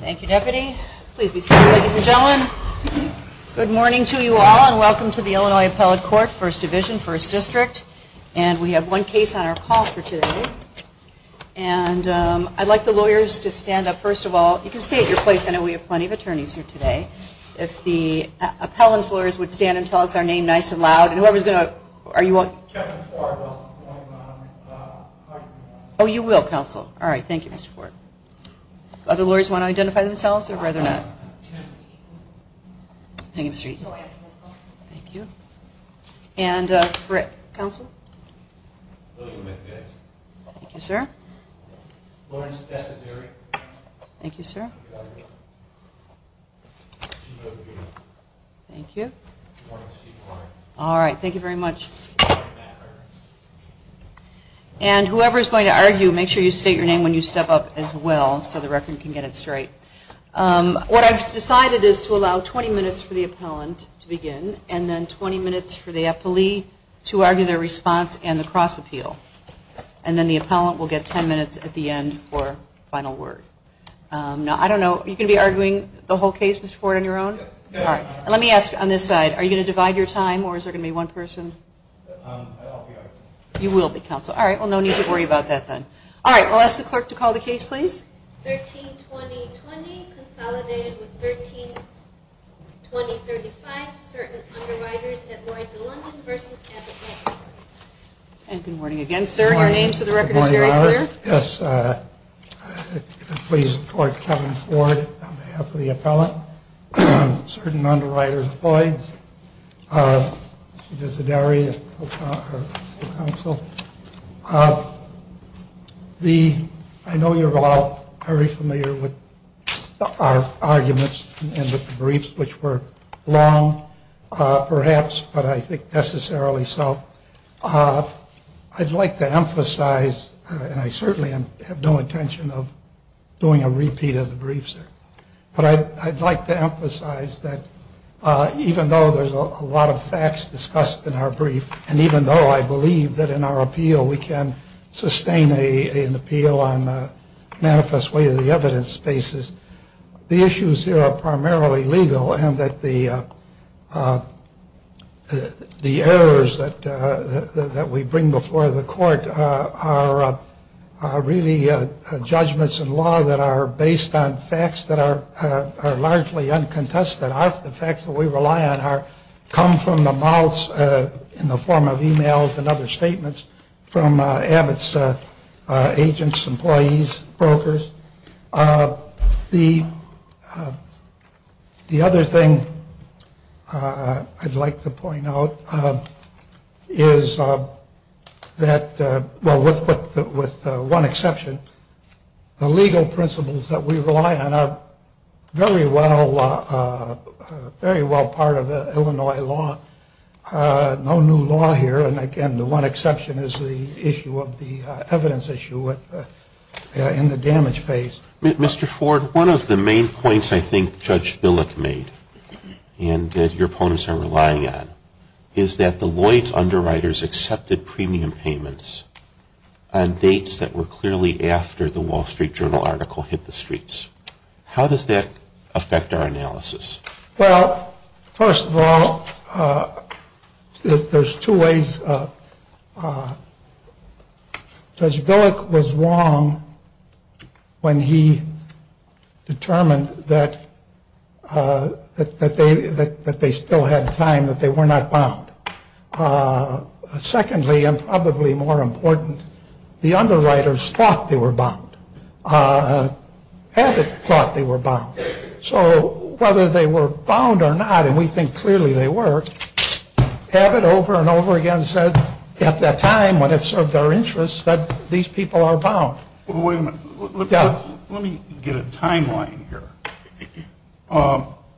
Thank you, Deputy. Please be seated, ladies and gentlemen. Good morning to you all and welcome to the Illinois Appellate Court, First Division, First District. And we have one case on our call for today. And I'd like the lawyers to stand up first of all. You can stay at your place. I know we have plenty of attorneys here today. If the appellant's lawyers would stand and tell us our name nice and loud. Oh, you will, counsel. All right. Thank you, Mr. Ford. Other lawyers want to identify themselves or rather not? Thank you, Mr. Eaton. And Frick, counsel. Thank you, sir. Thank you. All right. Thank you very much. And whoever is going to argue, make sure you state your name when you step up as well so the record can get it straight. What I've decided is to allow 20 minutes for the appellant to begin and then 20 minutes for the appellee to argue their response and the cross-appeal. And then the appellant will get 10 minutes at the end for final word. Now, I don't know, are you going to be arguing the whole case, Mr. Ford, on your own? All right. Let me ask on this side, are you going to divide your time or is there going to be one person? I'll be arguing. You will be, counsel. All right. Well, no need to worry about that then. All right. I'll ask the clerk to call the case, please. 13-2020, consolidated with 13-2035, certain underwriters, Edwards & London v. Epicenter. And good morning again, sir. Your name so the record is very clear. Yes, please, the court, Kevin Ford, on behalf of the appellant, certain underwriters, Lloyds, Mr. Desideri, counsel. The I know you're all very familiar with our arguments and the briefs, which were long, perhaps, but I think necessarily so. I'd like to emphasize, and I certainly have no intention of doing a repeat of the briefs, but I'd like to emphasize that even though there's a lot of facts discussed in our brief, and even though I believe that in our appeal we can sustain an appeal on a manifest way of the evidence basis, the issues here are primarily legal and that the errors that we bring before the court are really judgments in law that are based on facts that are largely uncontested. The facts that we rely on come from the mouths, in the form of e-mails and other statements, from Abbott's agents, employees, brokers. The the other thing I'd like to point out is that. Well, with with one exception, the legal principles that we rely on are very well, very well part of Illinois law. No new law here. And again, the one exception is the issue of the evidence issue in the damage phase. Mr. Ford, one of the main points I think Judge Billick made, and your opponents are relying on, is that the Lloyd's underwriters accepted premium payments on dates that were clearly after the Wall Street Journal article hit the streets. How does that affect our analysis? Well, first of all, there's two ways. Judge Billick was wrong when he determined that they that they still had time, that they were not bound. Secondly, and probably more important, the underwriters thought they were bound. Abbott thought they were bound. So whether they were bound or not, and we think clearly they were, Abbott over and over again said at that time, when it served our interests, that these people are bound. Wait a minute. Let me get a timeline here.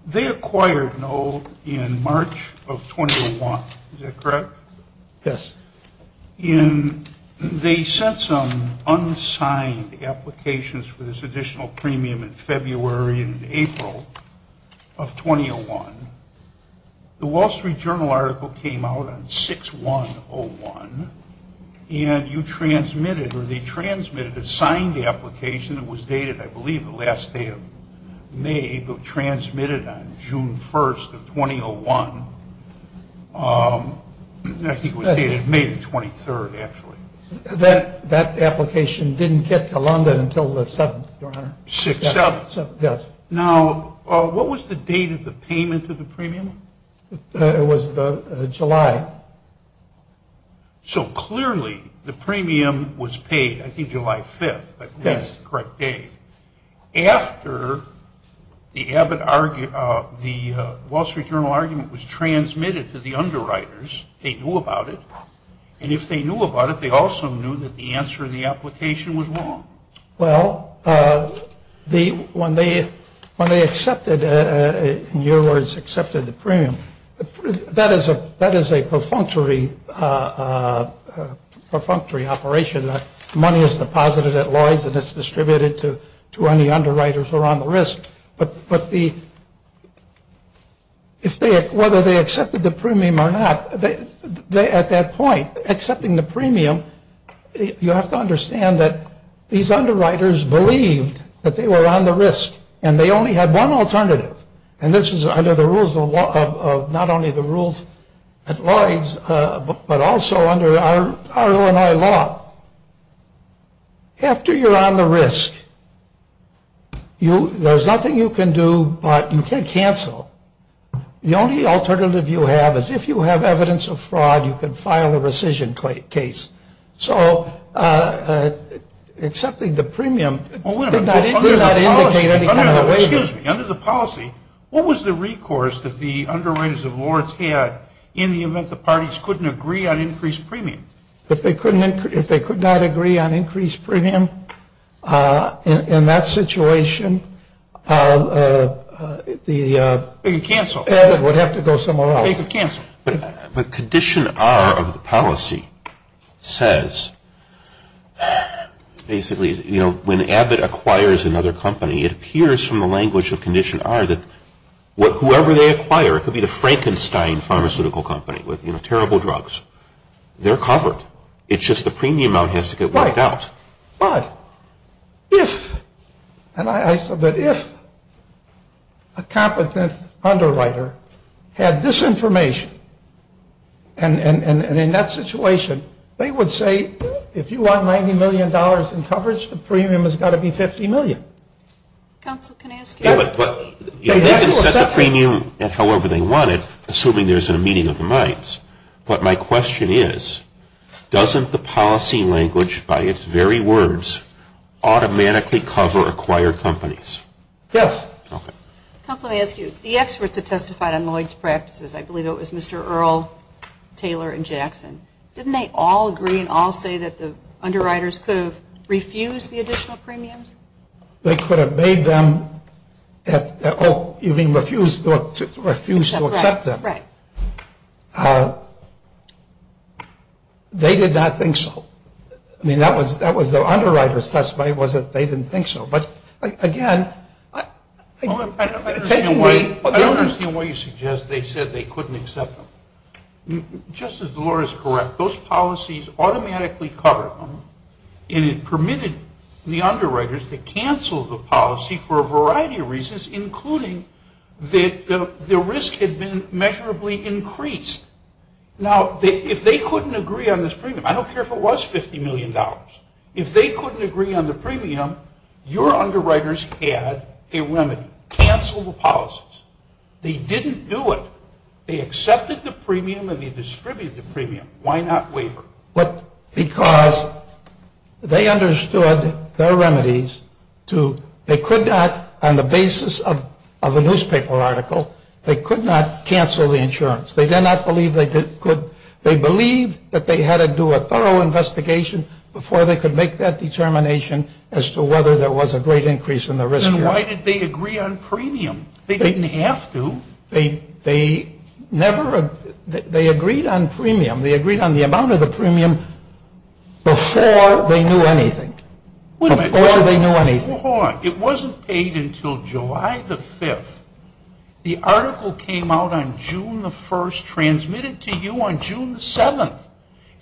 They acquired NOLD in March of 2001. Is that correct? Yes. They sent some unsigned applications for this additional premium in February and April of 2001. The Wall Street Journal article came out on 6-1-0-1, and you transmitted or they transmitted a signed application. It was dated, I believe, the last day of May, but transmitted on June 1st of 2001. I think it was dated May the 23rd, actually. That application didn't get to London until the 7th, Your Honor. 6-7. Yes. Now, what was the date of the payment of the premium? It was July. So clearly the premium was paid, I think, July 5th. Yes. That's the correct date. After the Wall Street Journal argument was transmitted to the underwriters, they knew about it. And if they knew about it, they also knew that the answer in the application was wrong. Well, when they accepted, in your words, accepted the premium, that is a perfunctory operation. Money is deposited at Lloyd's, and it's distributed to any underwriters who are on the risk. But whether they accepted the premium or not, at that point, accepting the premium, you have to understand that these underwriters believed that they were on the risk, and they only had one alternative. And this is under the rules of not only the rules at Lloyd's, but also under our Illinois law. After you're on the risk, there's nothing you can do but you can cancel. The only alternative you have is if you have evidence of fraud, you can file a rescission case. So accepting the premium did not indicate any kind of waiver. Excuse me. Under the policy, what was the recourse that the underwriters of Lloyd's had in the event the parties couldn't agree on increased premium? If they could not agree on increased premium, in that situation, Abbott would have to go somewhere else. But Condition R of the policy says basically, you know, when Abbott acquires another company, it appears from the language of Condition R that whoever they acquire, it could be the Frankenstein Pharmaceutical Company with, you know, terrible drugs. They're covered. It's just the premium amount has to get worked out. Right. But if, and I submit, if a competent underwriter had this information, and in that situation, they would say, if you want $90 million in coverage, the premium has got to be $50 million. Counsel, can I ask you? They can set the premium however they want it, assuming there's a meeting of the minds. But my question is, doesn't the policy language, by its very words, automatically cover acquired companies? Yes. Counsel, let me ask you. The experts that testified on Lloyd's practices, I believe it was Mr. Earle, Taylor, and Jackson, didn't they all agree and all say that the underwriters could have refused the additional premiums? They could have made them, oh, you mean refused to accept them. Right. They did not think so. I mean, that was the underwriter's testimony was that they didn't think so. But, again, taking the- I don't understand why you suggest they said they couldn't accept them. Just as Laura is correct, those policies automatically cover them, and it permitted the underwriters to cancel the policy for a variety of reasons, including that the risk had been measurably increased. Now, if they couldn't agree on this premium, I don't care if it was $50 million, if they couldn't agree on the premium, your underwriters had a remedy, cancel the policies. They didn't do it. They accepted the premium and they distributed the premium. Why not waiver? Because they understood their remedies to-they could not, on the basis of a newspaper article, they could not cancel the insurance. They did not believe they could. They believed that they had to do a thorough investigation before they could make that determination as to whether there was a great increase in the risk here. Then why did they agree on premium? They didn't have to. They never-they agreed on premium. They agreed on the amount of the premium before they knew anything. Wait a minute. Before they knew anything. Hold on. It wasn't paid until July the 5th. The article came out on June the 1st, transmitted to you on June the 7th,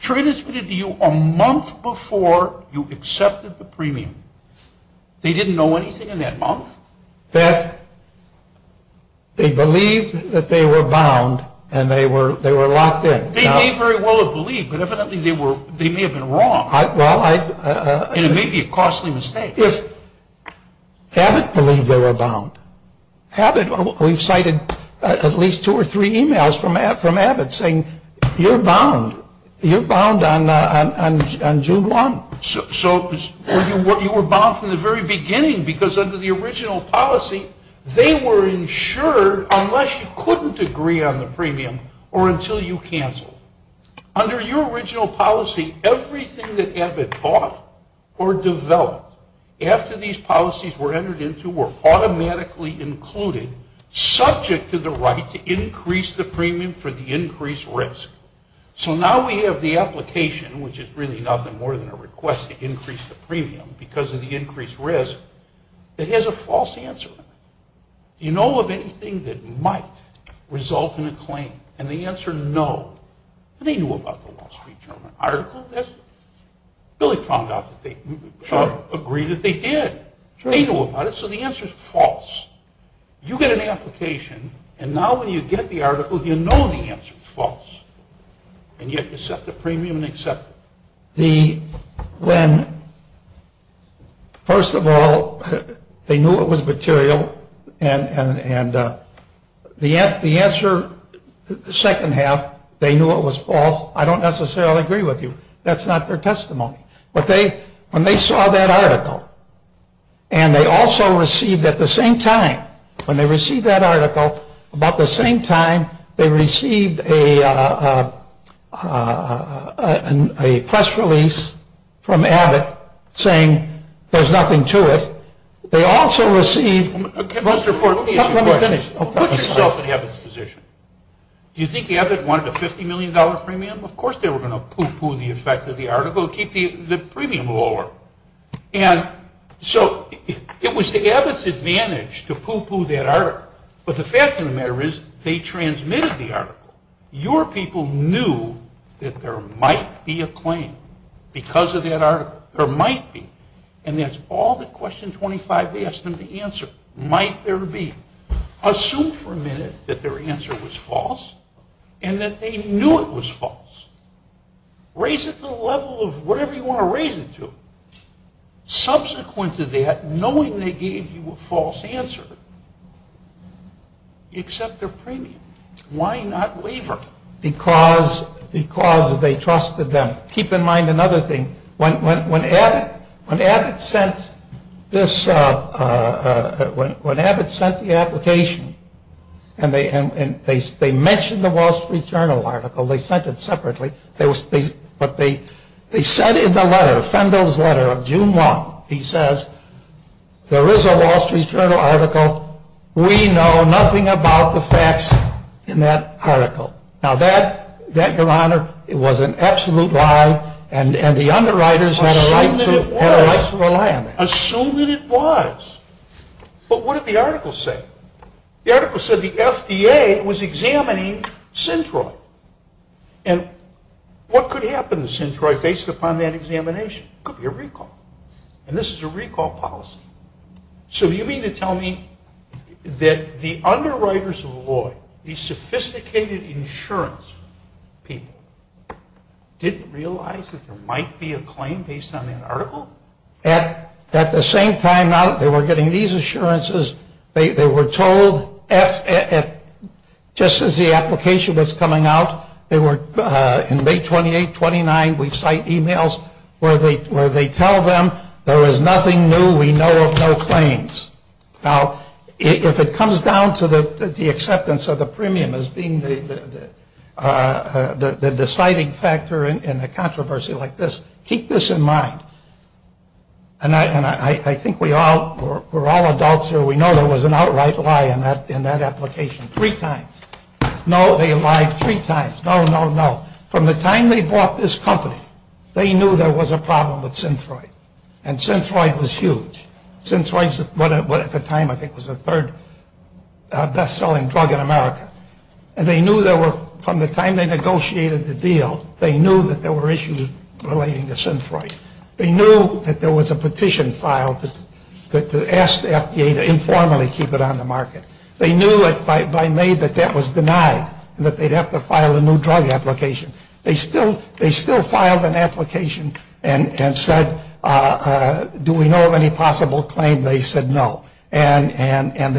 transmitted to you a month before you accepted the premium. They didn't know anything in that month? That they believed that they were bound and they were locked in. They may very well have believed, but evidently they may have been wrong. And it may be a costly mistake. If Abbott believed they were bound. Abbott-we've cited at least two or three emails from Abbott saying, you're bound. You're bound on June 1. You were bound from the very beginning because under the original policy, they were insured unless you couldn't agree on the premium or until you canceled. Under your original policy, everything that Abbott bought or developed after these policies were entered into were automatically included, subject to the right to increase the premium for the increased risk. So now we have the application, which is really nothing more than a request to increase the premium because of the increased risk, that has a false answer. Do you know of anything that might result in a claim? And the answer, no. They knew about the Wall Street Journal article. They really found out that they agreed that they did. They knew about it, so the answer is false. You get an application, and now when you get the article, you know the answer is false, and yet you set the premium and accept it. When, first of all, they knew it was material, and the answer, the second half, they knew it was false, I don't necessarily agree with you. That's not their testimony. When they saw that article, and they also received at the same time, when they received that article, about the same time they received a press release from Abbott saying there's nothing to it, they also received... Mr. Ford, let me finish. Put yourself in Abbott's position. Do you think Abbott wanted a $50 million premium? Of course they were going to poo-poo the effect of the article, keep the premium lower. So it was to Abbott's advantage to poo-poo that article, but the fact of the matter is they transmitted the article. Your people knew that there might be a claim because of that article. There might be, and that's all that Question 25 asked them to answer, might there be. Assume for a minute that their answer was false and that they knew it was false. Raise it to the level of whatever you want to raise it to. Subsequent to that, knowing they gave you a false answer, accept their premium. Why not waiver? Because they trusted them. Keep in mind another thing. When Abbott sent the application, and they mentioned the Wall Street Journal article, they sent it separately, but they said in the letter, Fendel's letter of June 1, he says, there is a Wall Street Journal article. We know nothing about the facts in that article. Now that, Your Honor, was an absolute lie, and the underwriters had a right to rely on that. Assume that it was. But what did the article say? The article said the FDA was examining Centroid. And what could happen to Centroid based upon that examination? It could be a recall. And this is a recall policy. So you mean to tell me that the underwriters of the law, these sophisticated insurance people, didn't realize that there might be a claim based on that article? At the same time, they were getting these assurances. They were told, just as the application was coming out, in May 28, 29, we cite emails where they tell them, there is nothing new. We know of no claims. Now, if it comes down to the acceptance of the premium as being the deciding factor in a controversy like this, keep this in mind, and I think we're all adults here. We know there was an outright lie in that application three times. No, they lied three times. No, no, no. From the time they bought this company, they knew there was a problem with Centroid. And Centroid was huge. Centroid was at the time, I think, was the third best-selling drug in America. And they knew there were, from the time they negotiated the deal, they knew that there were issues relating to Centroid. They knew that there was a petition filed to ask the FDA to informally keep it on the market. They knew by May that that was denied and that they'd have to file a new drug application. They still filed an application and said, do we know of any possible claim? They said no. And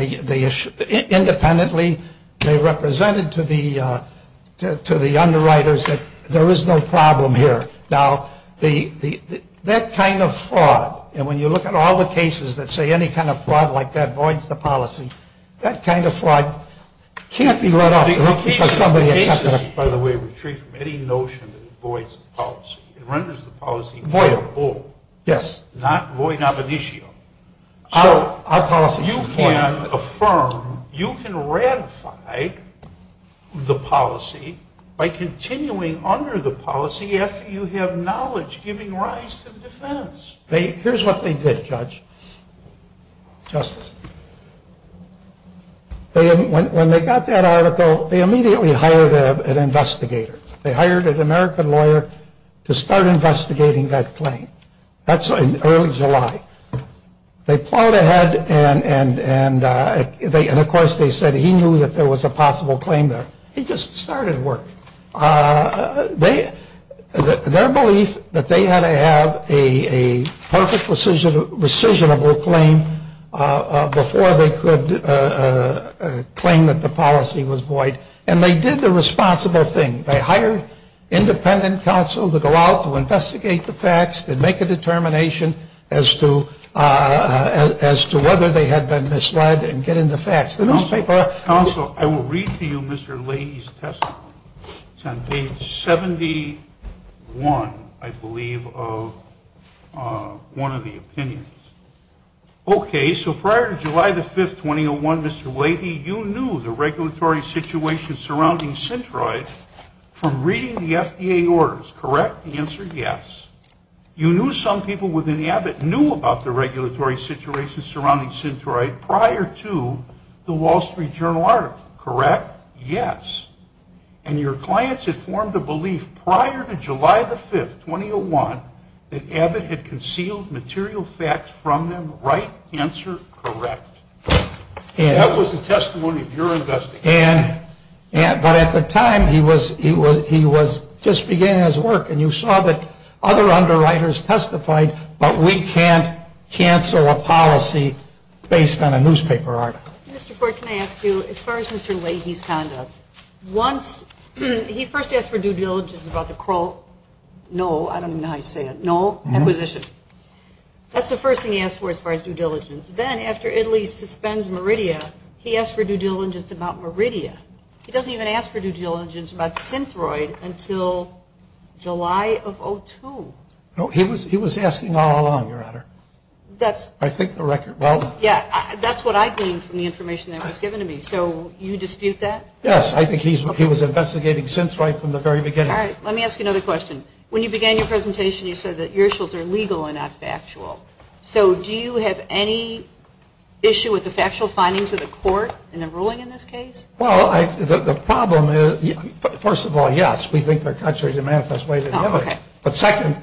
independently, they represented to the underwriters that there is no problem here. Now, that kind of fraud, and when you look at all the cases that say any kind of fraud like that voids the policy, that kind of fraud can't be let up because somebody accepted it. By the way, we treat any notion that it voids the policy. It renders the policy voidable. Yes. Not void ab initio. So you can affirm, you can ratify the policy by continuing under the policy after you have knowledge giving rise to the defense. Here's what they did, Judge. Justice. When they got that article, they immediately hired an investigator. They hired an American lawyer to start investigating that claim. That's in early July. They plowed ahead and, of course, they said he knew that there was a possible claim there. He just started work. Their belief that they had to have a perfect rescissionable claim before they could claim that the policy was void. And they did the responsible thing. They hired independent counsel to go out, to investigate the facts, to make a determination as to whether they had been misled and get in the facts. The newspaper. Counsel, I will read to you Mr. Leahy's testimony. It's on page 71, I believe, of one of the opinions. Okay, so prior to July the 5th, 2001, Mr. Leahy, you knew the regulatory situation surrounding Centroid from reading the FDA orders. Correct? The answer, yes. You knew some people within Abbott knew about the regulatory situation surrounding Centroid prior to the Wall Street Journal article. Correct? Yes. And your clients had formed a belief prior to July the 5th, 2001, that Abbott had concealed material facts from them. Right? Answer? Correct. That was the testimony of your investigation. But at the time, he was just beginning his work, and you saw that other underwriters testified, but we can't cancel a policy based on a newspaper article. Mr. Ford, can I ask you, as far as Mr. Leahy's conduct, he first asked for due diligence about the Kroll acquisition. That's the first thing he asked for as far as due diligence. Then, after Italy suspends Meridia, he asked for due diligence about Meridia. He doesn't even ask for due diligence about Centroid until July of 2002. He was asking all along, Your Honor. I think the record. That's what I gleaned from the information that was given to me. So you dispute that? Yes. I think he was investigating since right from the very beginning. All right. Let me ask you another question. When you began your presentation, you said that your issues are legal and not factual. So do you have any issue with the factual findings of the court in the ruling in this case? Well, the problem is, first of all, yes. We think they're contrary to the manifest way to the evidence. But second,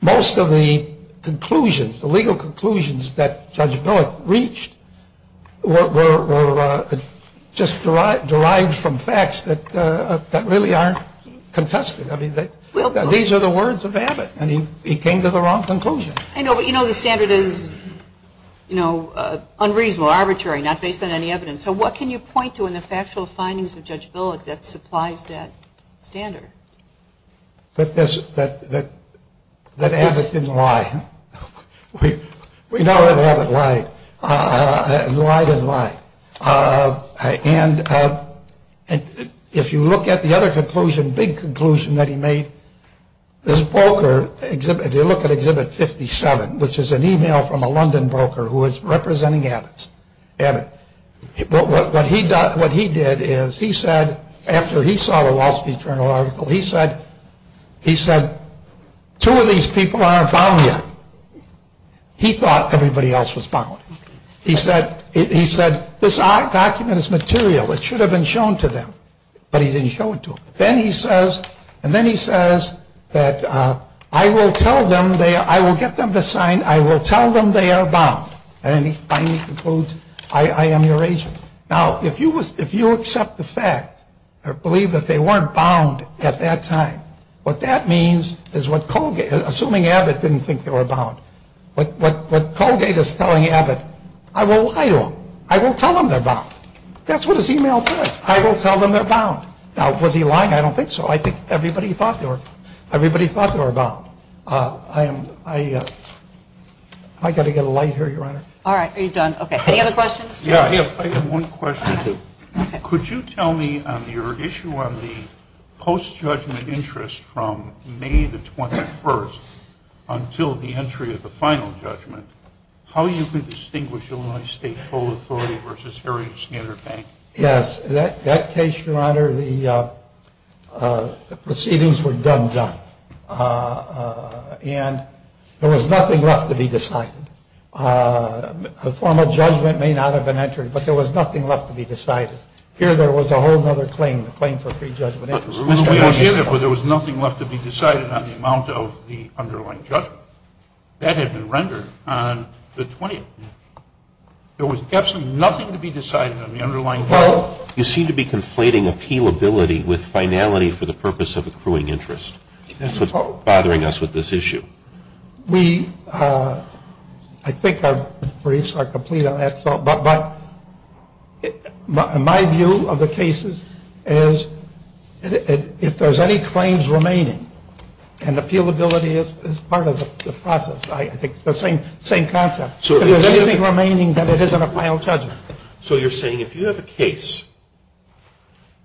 most of the conclusions, the legal conclusions that Judge Billick reached, were just derived from facts that really aren't contested. I mean, these are the words of Abbott, and he came to the wrong conclusion. I know, but you know the standard is, you know, unreasonable, arbitrary, not based on any evidence. So what can you point to in the factual findings of Judge Billick that supplies that standard? That Abbott didn't lie. We know that Abbott lied. He lied and lied. And if you look at the other conclusion, big conclusion that he made, this broker, if you look at Exhibit 57, which is an email from a London broker who was representing Abbott, what he did is he said, after he saw the Wall Street Journal article, he said, he said, two of these people aren't bound yet. He thought everybody else was bound. He said, this document is material. It should have been shown to them, but he didn't show it to them. Then he says, and then he says that, I will tell them, I will get them to sign, I will tell them they are bound. And then he finally concludes, I am your agent. Now, if you accept the fact or believe that they weren't bound at that time, what that means is what Colgate, assuming Abbott didn't think they were bound, what Colgate is telling Abbott, I will lie to them. I will tell them they're bound. That's what his email says. I will tell them they're bound. Now, was he lying? I don't think so. I think everybody thought they were bound. Am I going to get a light here, Your Honor? All right. Are you done? Okay. Any other questions? Yeah, I have one question. Could you tell me on your issue on the post-judgment interest from May the 21st until the entry of the final judgment, how you can distinguish Illinois State Toll Authority versus Harriet Snider Bank? Yes. That case, Your Honor, the proceedings were done done. And there was nothing left to be decided. A formal judgment may not have been entered, but there was nothing left to be decided. Here there was a whole other claim, the claim for pre-judgment interest. Well, we understand that, but there was nothing left to be decided on the amount of the underlying judgment. That had been rendered on the 20th. There was absolutely nothing to be decided on the underlying judgment. You seem to be conflating appealability with finality for the purpose of accruing interest. That's what's bothering us with this issue. We, I think our briefs are complete on that, but my view of the cases is if there's any claims remaining, and appealability is part of the process, I think it's the same concept. If there's anything remaining, then it isn't a final judgment. So you're saying if you have a case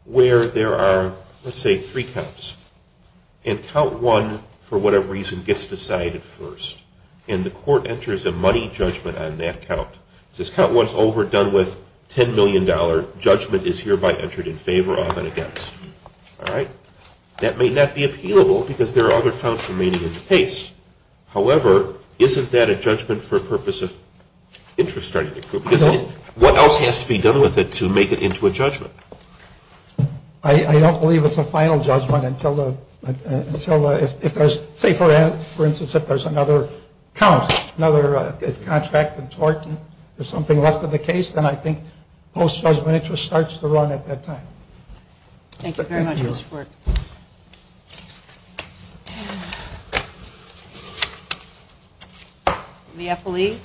where there are, let's say, three counts, and count one, for whatever reason, gets decided first, and the court enters a money judgment on that count, says count one's over, done with, $10 million, judgment is hereby entered in favor of and against, all right? That may not be appealable because there are other counts remaining in the case. However, isn't that a judgment for a purpose of interest starting to accrue? No. What else has to be done with it to make it into a judgment? I don't believe it's a final judgment until if there's, say, for instance, if there's another count, another contract in tort, and there's something left in the case, then I think post-judgment interest starts to run at that time. Thank you very much, Mr. Ford. The FLE.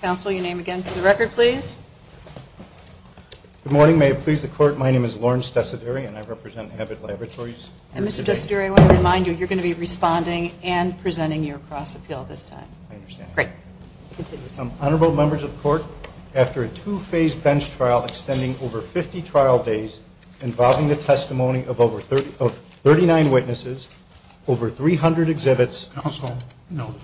Counsel, your name again for the record, please. Good morning. May it please the court, my name is Lawrence Desideri, and I represent Abbott Laboratories. And, Mr. Desideri, I want to remind you, you're going to be responding and presenting your cross-appeal this time. I understand. Great. Honorable members of the court, after a two-phase bench trial extending over 50 trial days, involving the testimony of 39 witnesses, over 300 exhibits. Counsel, no.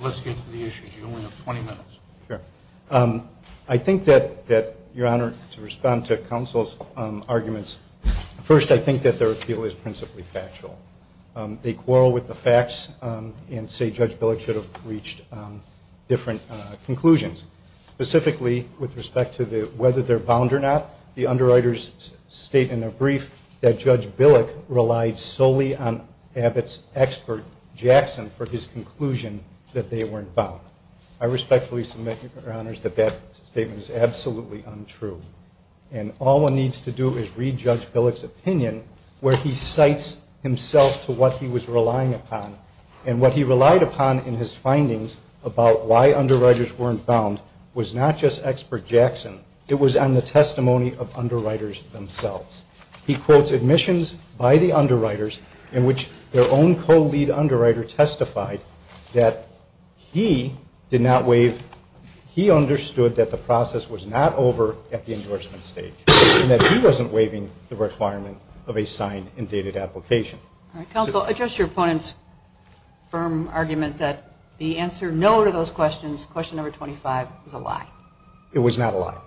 Let's get to the issues. You only have 20 minutes. Sure. I think that, Your Honor, to respond to counsel's arguments, first, I think that their appeal is principally factual. They quarrel with the facts and say Judge Billick should have reached different conclusions. Specifically, with respect to whether they're bound or not, the underwriters state in their brief that Judge Billick relied solely on Abbott's expert, Jackson, for his conclusion that they weren't bound. I respectfully submit, Your Honors, that that statement is absolutely untrue. where he cites himself to what he was relying upon. And what he relied upon in his findings about why underwriters weren't bound was not just expert Jackson. It was on the testimony of underwriters themselves. He quotes admissions by the underwriters in which their own co-lead underwriter testified that he did not waive. He understood that the process was not over at the endorsement stage and that he wasn't waiving the requirement of a signed and dated application. Counsel, address your opponent's firm argument that the answer no to those questions, question number 25, was a lie. It was not a lie.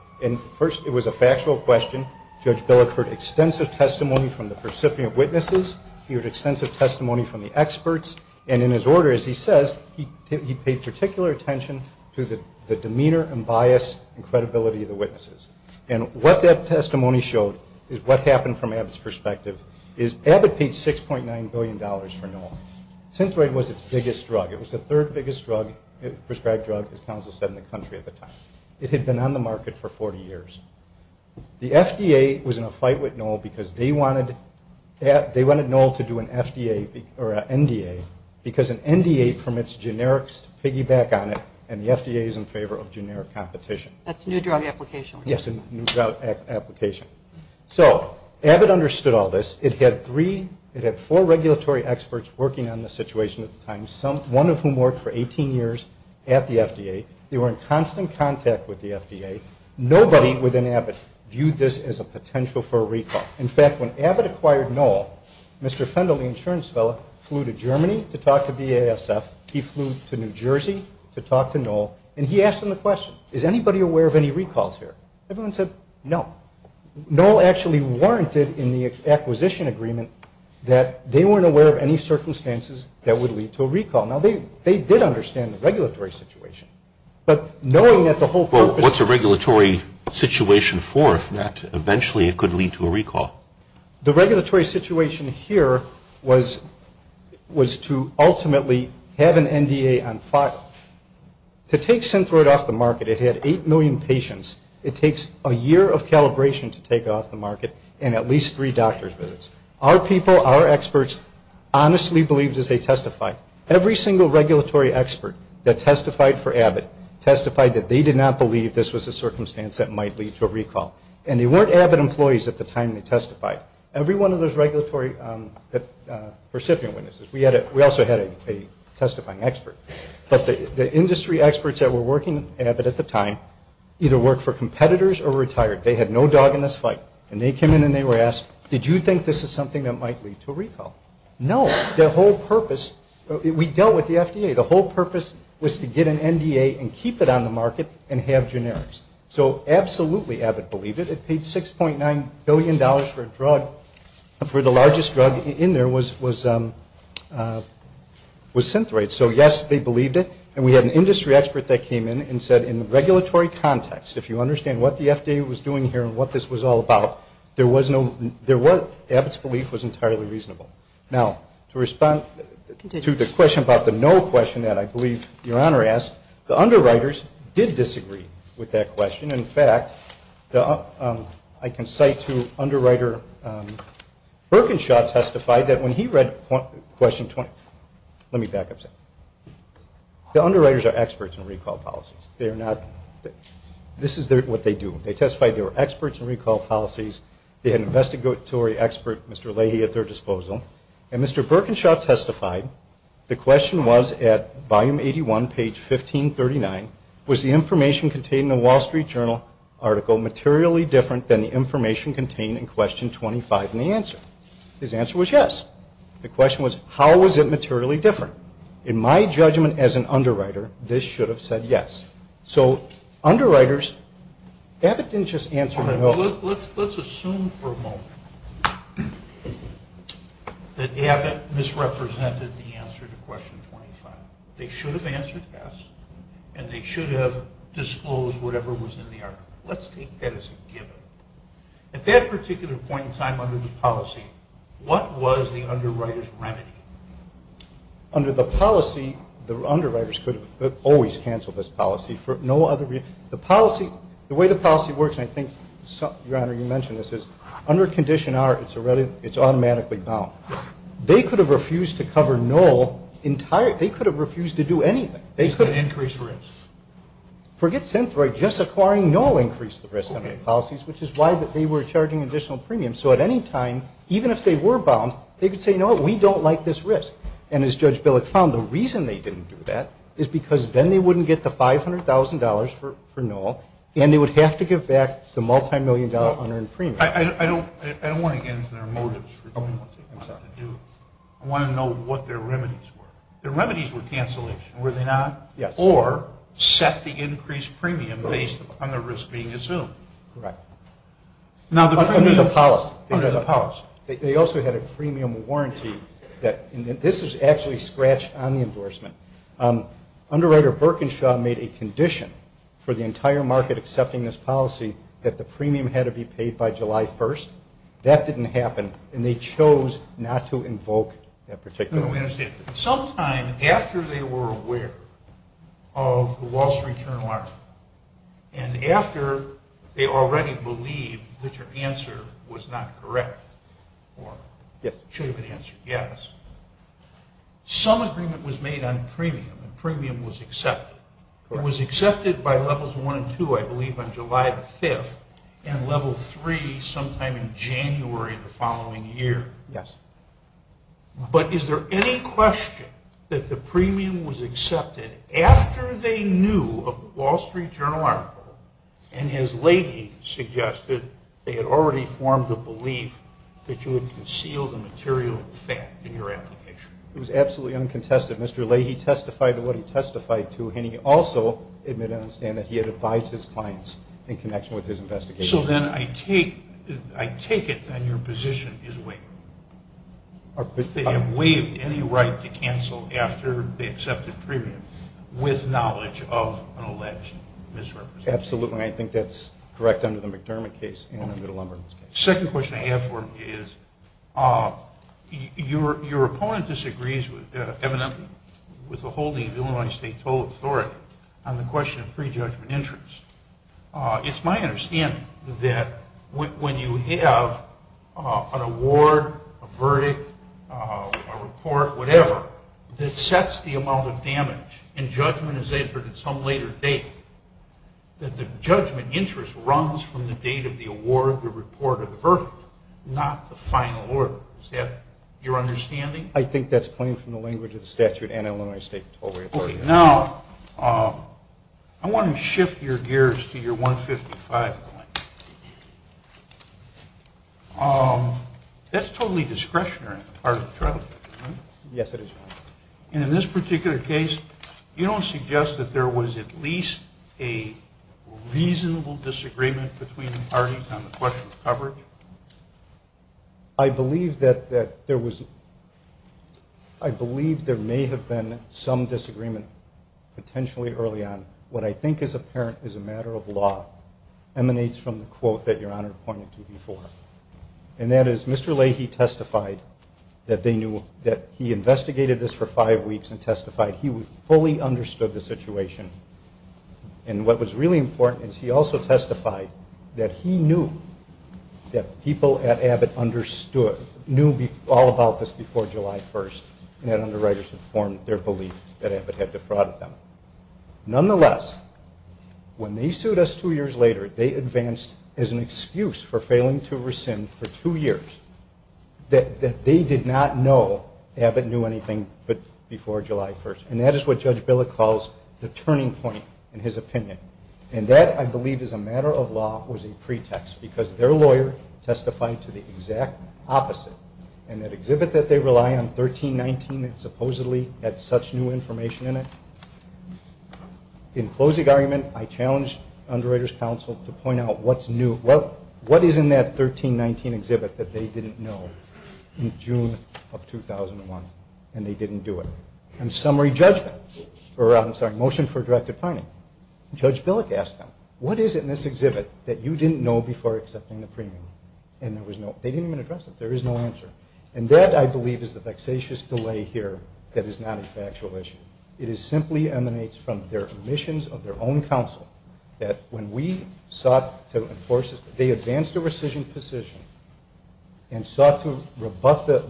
First, it was a factual question. Judge Billick heard extensive testimony from the recipient witnesses. He heard extensive testimony from the experts. And in his order, as he says, he paid particular attention to the demeanor and bias and credibility of the witnesses. And what that testimony showed is what happened from Abbott's perspective is Abbott paid $6.9 billion for NOL. Synthroid was its biggest drug. It was the third biggest prescribed drug, as counsel said, in the country at the time. It had been on the market for 40 years. The FDA was in a fight with NOL because they wanted NOL to do an FDA or an NDA because an NDA permits generics to piggyback on it and the FDA is in favor of generic competition. That's a new drug application. Yes, a new drug application. So Abbott understood all this. It had four regulatory experts working on the situation at the time, one of whom worked for 18 years at the FDA. They were in constant contact with the FDA. Nobody within Abbott viewed this as a potential for a recall. In fact, when Abbott acquired NOL, Mr. Fendel, the insurance fellow, flew to Germany to talk to BASF. He flew to New Jersey to talk to NOL. And he asked them the question, is anybody aware of any recalls here? Everyone said no. NOL actually warranted in the acquisition agreement that they weren't aware of any circumstances that would lead to a recall. Now, they did understand the regulatory situation. But knowing that the whole purpose of it was to ultimately have an NDA on file, to take Synthroid off the market, it had 8 million patients. It takes a year of calibration to take it off the market and at least three doctor's visits. Our people, our experts, honestly believed as they testified. Every single regulatory expert that testified for Abbott testified that they did not believe this was a circumstance that might lead to a recall. And they weren't Abbott employees at the time they testified. Every one of those regulatory recipient witnesses, we also had a testifying expert. But the industry experts that were working at Abbott at the time either worked for competitors or retired. They had no dog in this fight. And they came in and they were asked, did you think this is something that might lead to a recall? No. The whole purpose, we dealt with the FDA. The whole purpose was to get an NDA and keep it on the market and have generics. So absolutely Abbott believed it. It paid $6.9 billion for a drug, for the largest drug in there was Synthroid. So, yes, they believed it. And we had an industry expert that came in and said in the regulatory context, if you understand what the FDA was doing here and what this was all about, Abbott's belief was entirely reasonable. Now, to respond to the question about the no question that I believe Your Honor asked, the underwriters did disagree with that question. In fact, I can cite two underwriter. Berkenshaw testified that when he read question 20, let me back up a second. The underwriters are experts in recall policies. They are not, this is what they do. They testified they were experts in recall policies. They had an investigatory expert, Mr. Leahy, at their disposal. And Mr. Berkenshaw testified the question was at volume 81, page 1539, was the information contained in the Wall Street Journal article materially different than the information contained in question 25 in the answer? His answer was yes. The question was how was it materially different? In my judgment as an underwriter, this should have said yes. So underwriters, Abbott didn't just answer no. Let's assume for a moment that Abbott misrepresented the answer to question 25. They should have answered yes, and they should have disclosed whatever was in the article. Let's take that as a given. At that particular point in time under the policy, what was the underwriter's remedy? Under the policy, the underwriters could have always canceled this policy for no other reason. The way the policy works, and I think, Your Honor, you mentioned this, is under condition R, it's automatically bound. They could have refused to cover no, they could have refused to do anything. They could have increased risk. Forget Synthroid. Just acquiring no increased the risk under the policies, which is why they were charging additional premiums. So at any time, even if they were bound, they could say, you know what, we don't like this risk. And as Judge Billick found, the reason they didn't do that is because then they wouldn't get the $500,000 for no, and they would have to give back the multimillion-dollar unearned premium. I don't want to get into their motives for doing what they wanted to do. I want to know what their remedies were. Their remedies were cancellation, were they not? Yes. Or set the increased premium based on the risk being assumed. Correct. Under the policy. Under the policy. They also had a premium warranty. This is actually scratched on the endorsement. Underwriter Berkenshaw made a condition for the entire market accepting this policy that the premium had to be paid by July 1st. That didn't happen, and they chose not to invoke that particular one. No, we understand. Sometime after they were aware of the loss of return on loss, and after they already believed that your answer was not correct or should have been answered yes, some agreement was made on premium, and premium was accepted. Correct. It was accepted by Levels 1 and 2, I believe, on July 5th, and Level 3 sometime in January of the following year. Yes. But is there any question that the premium was accepted after they knew of the Wall Street Journal article and as Leahy suggested, they had already formed the belief that you had concealed the material fact in your application? It was absolutely uncontested. Mr. Leahy testified to what he testified to, and he also admitted and understand that he had advised his clients in connection with his investigation. So then I take it then your position is waived. They have waived any right to cancel after they accepted premium with knowledge of an alleged misrepresentation. Absolutely. I think that's correct under the McDermott case and the Middleumberg case. The second question I have for him is, your opponent disagrees evidently with the holding of the Illinois State Toll Authority on the question of pre-judgment interest. It's my understanding that when you have an award, a verdict, a report, whatever, that sets the amount of damage and judgment is entered at some later date, that the judgment interest runs from the date of the award, the report, or the verdict, not the final order. Is that your understanding? I think that's plain from the language of the statute and Illinois State Toll Authority. Okay. Now, I want to shift your gears to your 155 point. That's totally discretionary on the part of the trial. Yes, it is. In this particular case, you don't suggest that there was at least a reasonable disagreement between the parties on the question of coverage? I believe there may have been some disagreement potentially early on. What I think is apparent is a matter of law emanates from the quote that Your Honor pointed to before, and that is Mr. Leahy testified that he investigated this for five weeks and testified he fully understood the situation, and what was really important is he also testified that he knew that people at Abbott knew all about this before July 1st, and that underwriters had formed their belief that Abbott had defrauded them. Nonetheless, when they sued us two years later, they advanced as an excuse for failing to rescind for two years that they did not know Abbott knew anything but before July 1st, and that is what Judge Billick calls the turning point in his opinion, and that, I believe, as a matter of law was a pretext because their lawyer testified to the exact opposite, and that exhibit that they rely on, 1319, supposedly had such new information in it. In closing argument, I challenged underwriters' counsel to point out what's new, what is in that 1319 exhibit that they didn't know in June of 2001, and they didn't do it, and summary judgment, or I'm sorry, motion for directive finding. Judge Billick asked them, what is it in this exhibit that you didn't know before accepting the premium, and there was no, they didn't even address it, there is no answer, and that, I believe, is the vexatious delay here that is not a factual issue. It simply emanates from their omissions of their own counsel that when we sought to enforce it, they advanced a rescission position and sought to rebut the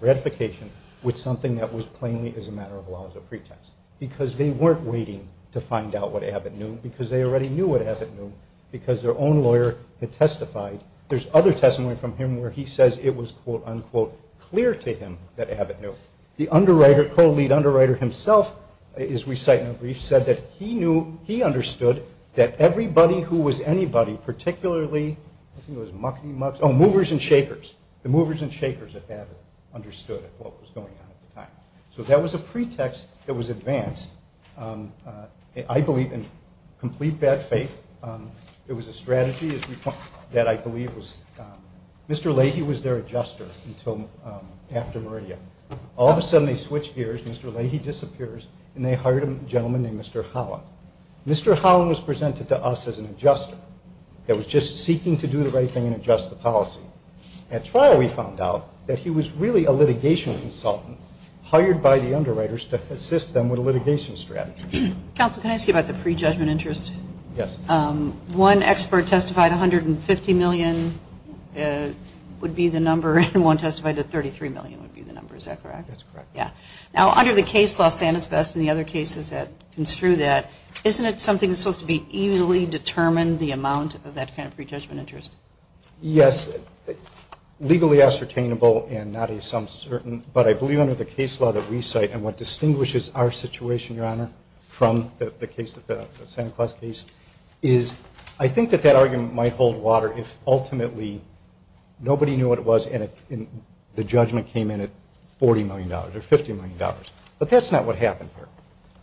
ratification with something that was plainly, as a matter of law, a pretext because they weren't waiting to find out what Abbott knew because they already knew what Abbott knew because their own lawyer had testified. There's other testimony from him where he says it was, quote, unquote, clear to him that Abbott knew. The underwriter, co-lead underwriter himself, as we cite in the brief, said that he knew, he understood that everybody who was anybody, particularly, I think it was Muckney, oh, Movers and Shakers, the Movers and Shakers at Abbott understood what was going on at the time. So that was a pretext that was advanced. I believe, in complete bad faith, it was a strategy that I believe was, Mr. Leahy was their adjuster until after Meridia. All of a sudden, they switched gears, Mr. Leahy disappears, and they hired a gentleman named Mr. Holland. Mr. Holland was presented to us as an adjuster that was just seeking to do the right thing and adjust the policy. At trial, we found out that he was really a litigation consultant hired by the underwriters to assist them with a litigation strategy. Counsel, can I ask you about the pre-judgment interest? Yes. One expert testified $150 million would be the number, and one testified that $33 million would be the number. Is that correct? That's correct. Yeah. Now, under the case law, Santa's Best and the other cases that construe that, isn't it something that's supposed to be easily determined, the amount of that kind of pre-judgment interest? Yes. Legally ascertainable and not a some certain, but I believe under the case law that we cite and what distinguishes our situation, Your Honor, from the case, the Santa Claus case, is I think that that argument might hold water if ultimately nobody knew what it was and the judgment came in at $40 million or $50 million. But that's not what happened here.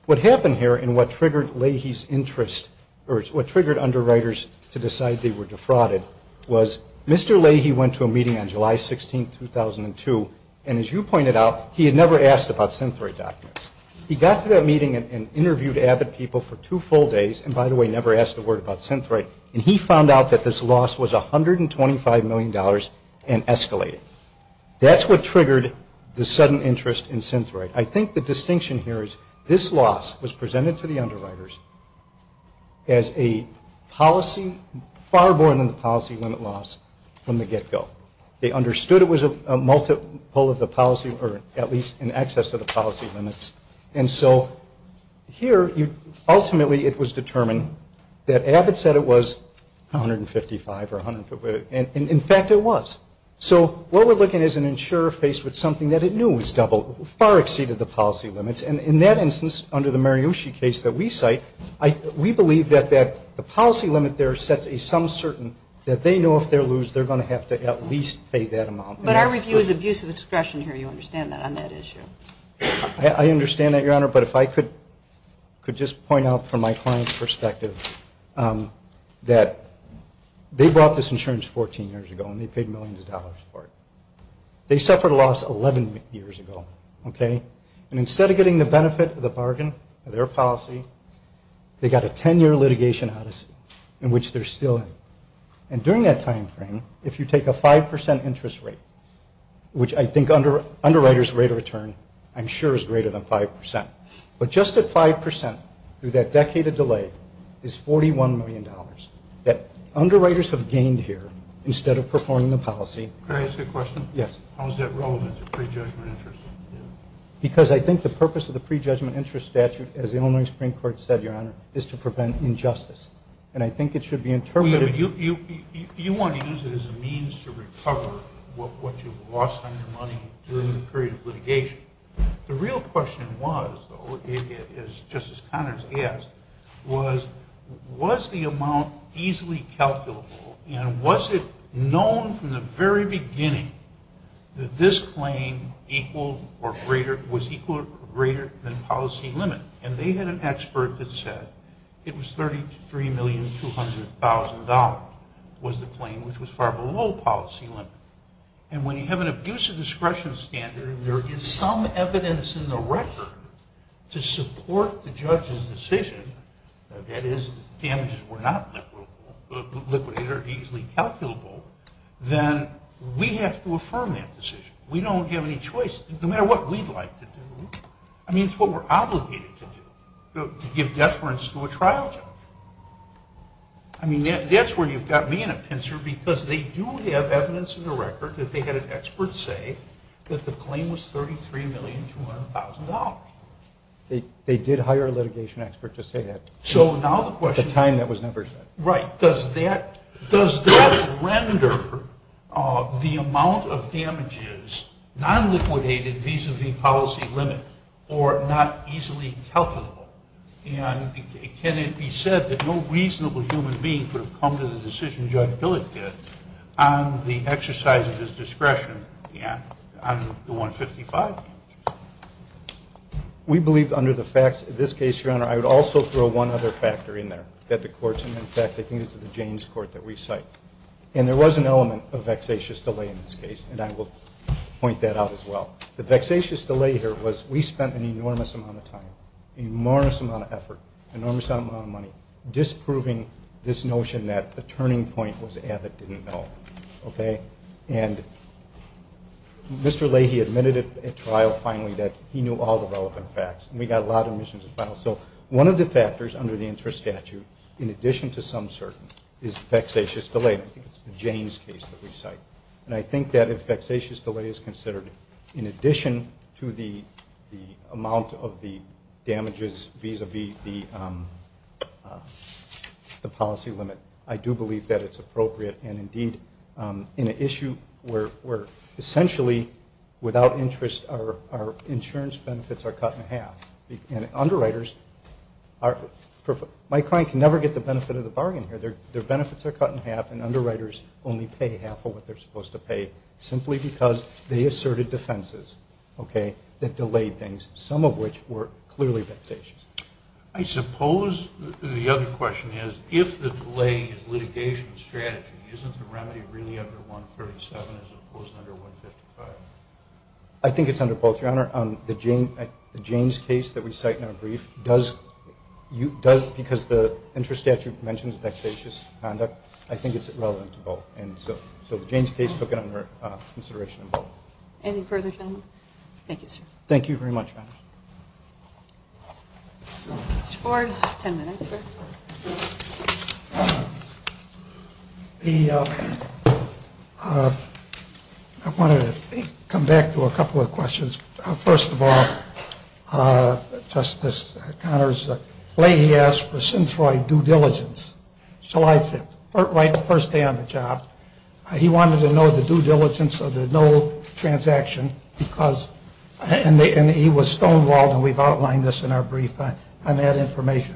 What happened here and what triggered Leahy's interest, or what triggered underwriters to decide they were defrauded, was Mr. Leahy went to a meeting on July 16, 2002, and as you pointed out, he had never asked about centroid documents. He got to that meeting and interviewed avid people for two full days, and by the way, never asked a word about centroid, and he found out that this loss was $125 million and escalated. That's what triggered the sudden interest in centroid. I think the distinction here is this loss was presented to the underwriters as a policy, they understood it was a multiple of the policy, or at least in excess of the policy limits, and so here ultimately it was determined that avid said it was $155 or $150, and in fact it was. So what we're looking at is an insurer faced with something that it knew was double, far exceeded the policy limits, and in that instance under the Mariucci case that we cite, we believe that the policy limit there sets a sum certain that they know if they lose, they're going to have to at least pay that amount. But our review is abuse of discretion here. You understand that on that issue. I understand that, Your Honor, but if I could just point out from my client's perspective that they brought this insurance 14 years ago and they paid millions of dollars for it. They suffered a loss 11 years ago, okay, and instead of getting the benefit of the bargain of their policy, they got a 10-year litigation odyssey in which they're still in, and during that time frame, if you take a 5% interest rate, which I think underwriters rate of return I'm sure is greater than 5%, but just at 5% through that decade of delay is $41 million that underwriters have gained here instead of performing the policy. Can I ask a question? Yes. How is that relevant to prejudgment interest? Because I think the purpose of the prejudgment interest statute, as the Illinois Supreme Court said, Your Honor, is to prevent injustice, and I think it should be interpreted. You want to use it as a means to recover what you've lost on your money during the period of litigation. The real question was, though, as Justice Connors asked, was the amount easily calculable, and was it known from the very beginning that this claim was equal or greater than policy limit? And they had an expert that said it was $33,200,000 was the claim, which was far below policy limit. And when you have an abuse of discretion standard and there is some evidence in the record to support the judge's decision, that is, damages were not liquidated or easily calculable, then we have to affirm that decision. We don't have any choice. No matter what we'd like to do. I mean, it's what we're obligated to do, to give deference to a trial judge. I mean, that's where you've got me in a pincer, because they do have evidence in the record that they had an expert say that the claim was $33,200,000. They did hire a litigation expert to say that. At the time, that was never said. Right. Does that render the amount of damages non-liquidated vis-a-vis policy limit or not easily calculable? And can it be said that no reasonable human being could have come to the decision Judge Billick did on the exercise of his discretion on the $155,000 damages? We believe under the facts of this case, Your Honor, I would also throw one other factor in there. In fact, I think it's the James Court that we cite. And there was an element of vexatious delay in this case, and I will point that out as well. The vexatious delay here was we spent an enormous amount of time, an enormous amount of effort, an enormous amount of money, disproving this notion that the turning point was ad that didn't know. Okay? And Mr. Leahy admitted at trial, finally, that he knew all the relevant facts. And we got a lot of admissions as well. So one of the factors under the interest statute, in addition to some certain, is vexatious delay. I think it's the James case that we cite. And I think that if vexatious delay is considered in addition to the amount of the damages vis-a-vis the policy limit, I do believe that it's appropriate. And, indeed, in an issue where essentially without interest our insurance benefits are cut in half, and underwriters are – my client can never get the benefit of the bargain here. Their benefits are cut in half, and underwriters only pay half of what they're supposed to pay, simply because they asserted defenses that delayed things, some of which were clearly vexatious. I suppose the other question is, if the delay is litigation strategy, isn't the remedy really under 137 as opposed to under 155? I think it's under both, Your Honor. The James case that we cite in our brief does, because the interest statute mentions vexatious conduct, I think it's relevant to both. And so the James case took it under consideration in both. Any further comment? Thank you, sir. Thank you very much, Madam. Mr. Ford, ten minutes, sir. I wanted to come back to a couple of questions. First of all, Justice Connors, the way he asked for centroid due diligence, July 5th, right the first day on the job, he wanted to know the due diligence of the no transaction because – and he was stonewalled, and we've outlined this in our brief on that information.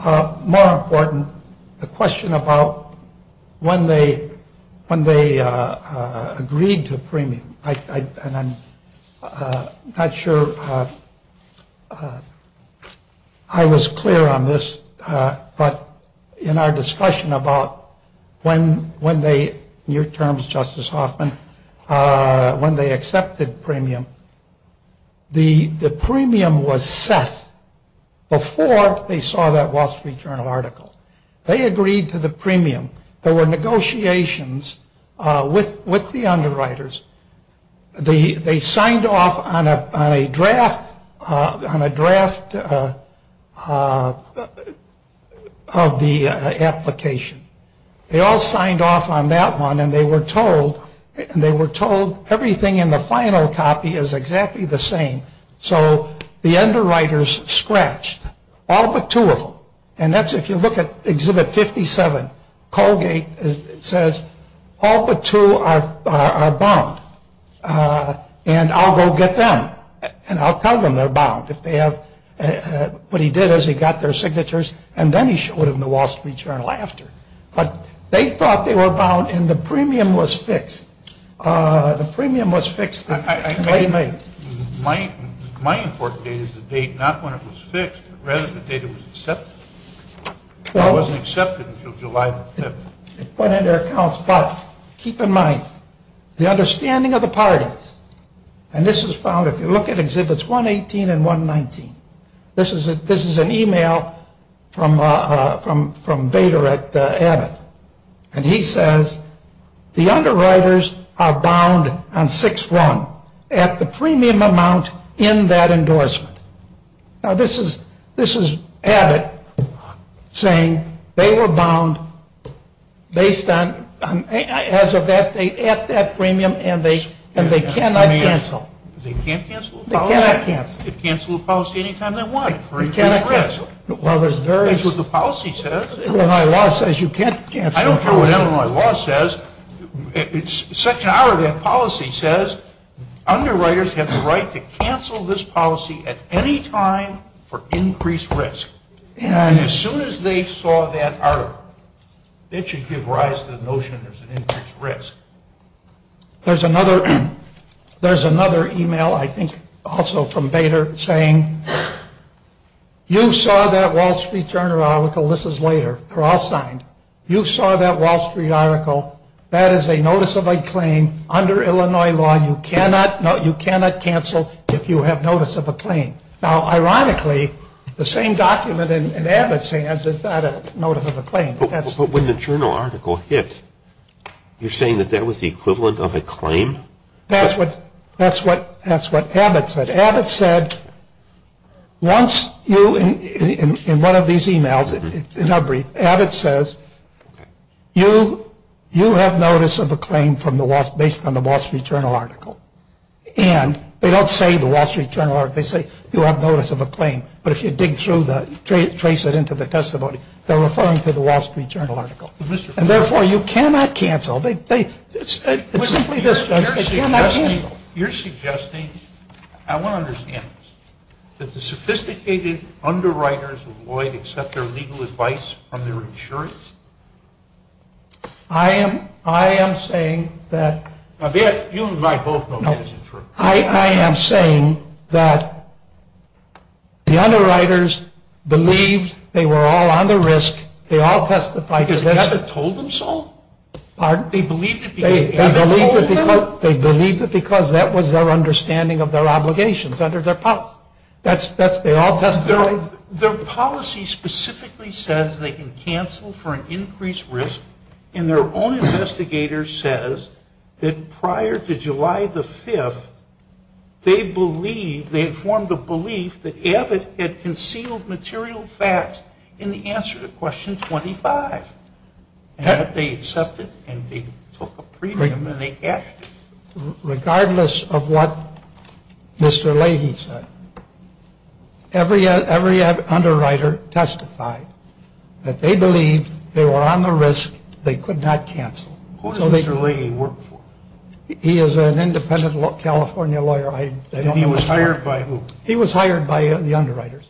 More important, the question about when they agreed to premium. And I'm not sure I was clear on this, but in our discussion about when they, in your terms, Justice Hoffman, when they accepted premium, the premium was set before they saw that Wall Street Journal article. They agreed to the premium. There were negotiations with the underwriters. They signed off on a draft of the application. They all signed off on that one, and they were told everything in the final copy is exactly the same. So the underwriters scratched all but two of them. And that's if you look at Exhibit 57, Colgate says all but two are bound, and I'll go get them, and I'll tell them they're bound if they have – what he did is he got their signatures, and then he showed them the Wall Street Journal after. But they thought they were bound, and the premium was fixed. The premium was fixed in late May. My important data is the date not when it was fixed, but rather the date it was accepted. It wasn't accepted until July the 5th. It went into their accounts, but keep in mind, the understanding of the parties, and this is found if you look at Exhibits 118 and 119. This is an email from Bader at Abbott, and he says the underwriters are bound on 6-1 at the premium amount in that endorsement. Now, this is Abbott saying they were bound based on – as of that date at that premium, and they cannot cancel. They can't cancel? They cannot cancel. They can cancel a policy any time they want for increased risk. Well, there's various – That's what the policy says. Illinois law says you can't cancel a policy. I don't care what Illinois law says. Section I of that policy says underwriters have the right to cancel this policy at any time for increased risk. And as soon as they saw that article, it should give rise to the notion there's an increased risk. There's another email, I think, also from Bader saying you saw that Wall Street Journal article. This is later. They're all signed. You saw that Wall Street article. That is a notice of a claim under Illinois law. You cannot cancel if you have notice of a claim. Now, ironically, the same document in Abbott's hands is not a notice of a claim. But when the journal article hit, you're saying that that was the equivalent of a claim? That's what Abbott said. Abbott said once you – in one of these emails, in our brief, Abbott says you have notice of a claim based on the Wall Street Journal article. And they don't say the Wall Street Journal article. They say you have notice of a claim. But if you dig through the – trace it into the testimony, they're referring to the Wall Street Journal article. And, therefore, you cannot cancel. It's simply this, Judge. They cannot cancel. You're suggesting – I want to understand this. Did the sophisticated underwriters of Lloyd accept their legal advice from their insurance? I am saying that – Now, you and I both know that isn't true. I am saying that the underwriters believed they were all on the risk. They all testified to this. Because Abbott told them so? They believed it because Abbott told them? They believed it because that was their understanding of their obligations under their policy. That's – they all testified. Their policy specifically says they can cancel for an increased risk. And their own investigator says that prior to July the 5th, they believed – they had formed a belief that Abbott had concealed material facts in the answer to question 25. And that they accepted and they took a premium and they cashed it. Regardless of what Mr. Leahy said, every underwriter testified that they believed they were on the risk. They could not cancel. Who does Mr. Leahy work for? He is an independent California lawyer. And he was hired by who? He was hired by the underwriters.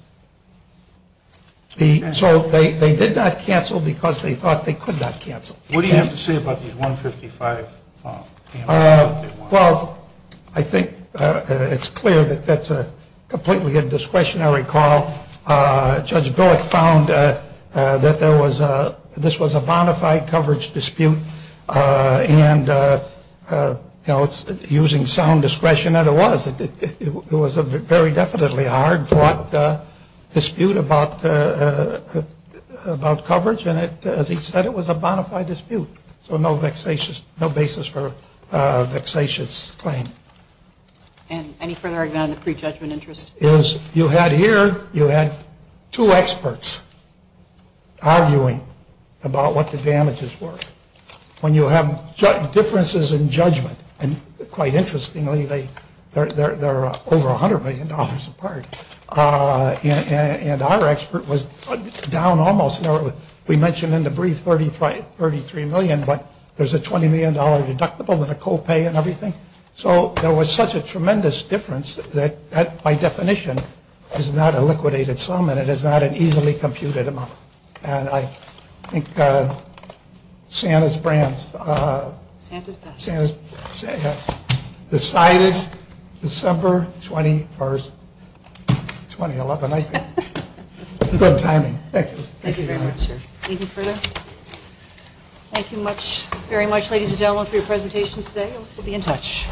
So they did not cancel because they thought they could not cancel. What do you have to say about these 155 files? Well, I think it's clear that that's a completely indiscretionary call. Judge Billick found that there was a – this was a bona fide coverage dispute. And, you know, using sound discretion, and it was. It was a very definitely hard-fought dispute about coverage. And as he said, it was a bona fide dispute. So no basis for a vexatious claim. And any further argument on the prejudgment interest? You had here, you had two experts arguing about what the damages were. When you have differences in judgment, and quite interestingly, they're over $100 million apart. And our expert was down almost. We mentioned in the brief $33 million, but there's a $20 million deductible and a copay and everything. So there was such a tremendous difference that that, by definition, is not a liquidated sum. And it is not an easily computed amount. And I think Santa's Brands. Santa's Best. Decided December 21st, 2011, I think. Good timing. Thank you. Thank you very much, sir. Any further? Thank you very much, ladies and gentlemen, for your presentation today. We'll be in touch.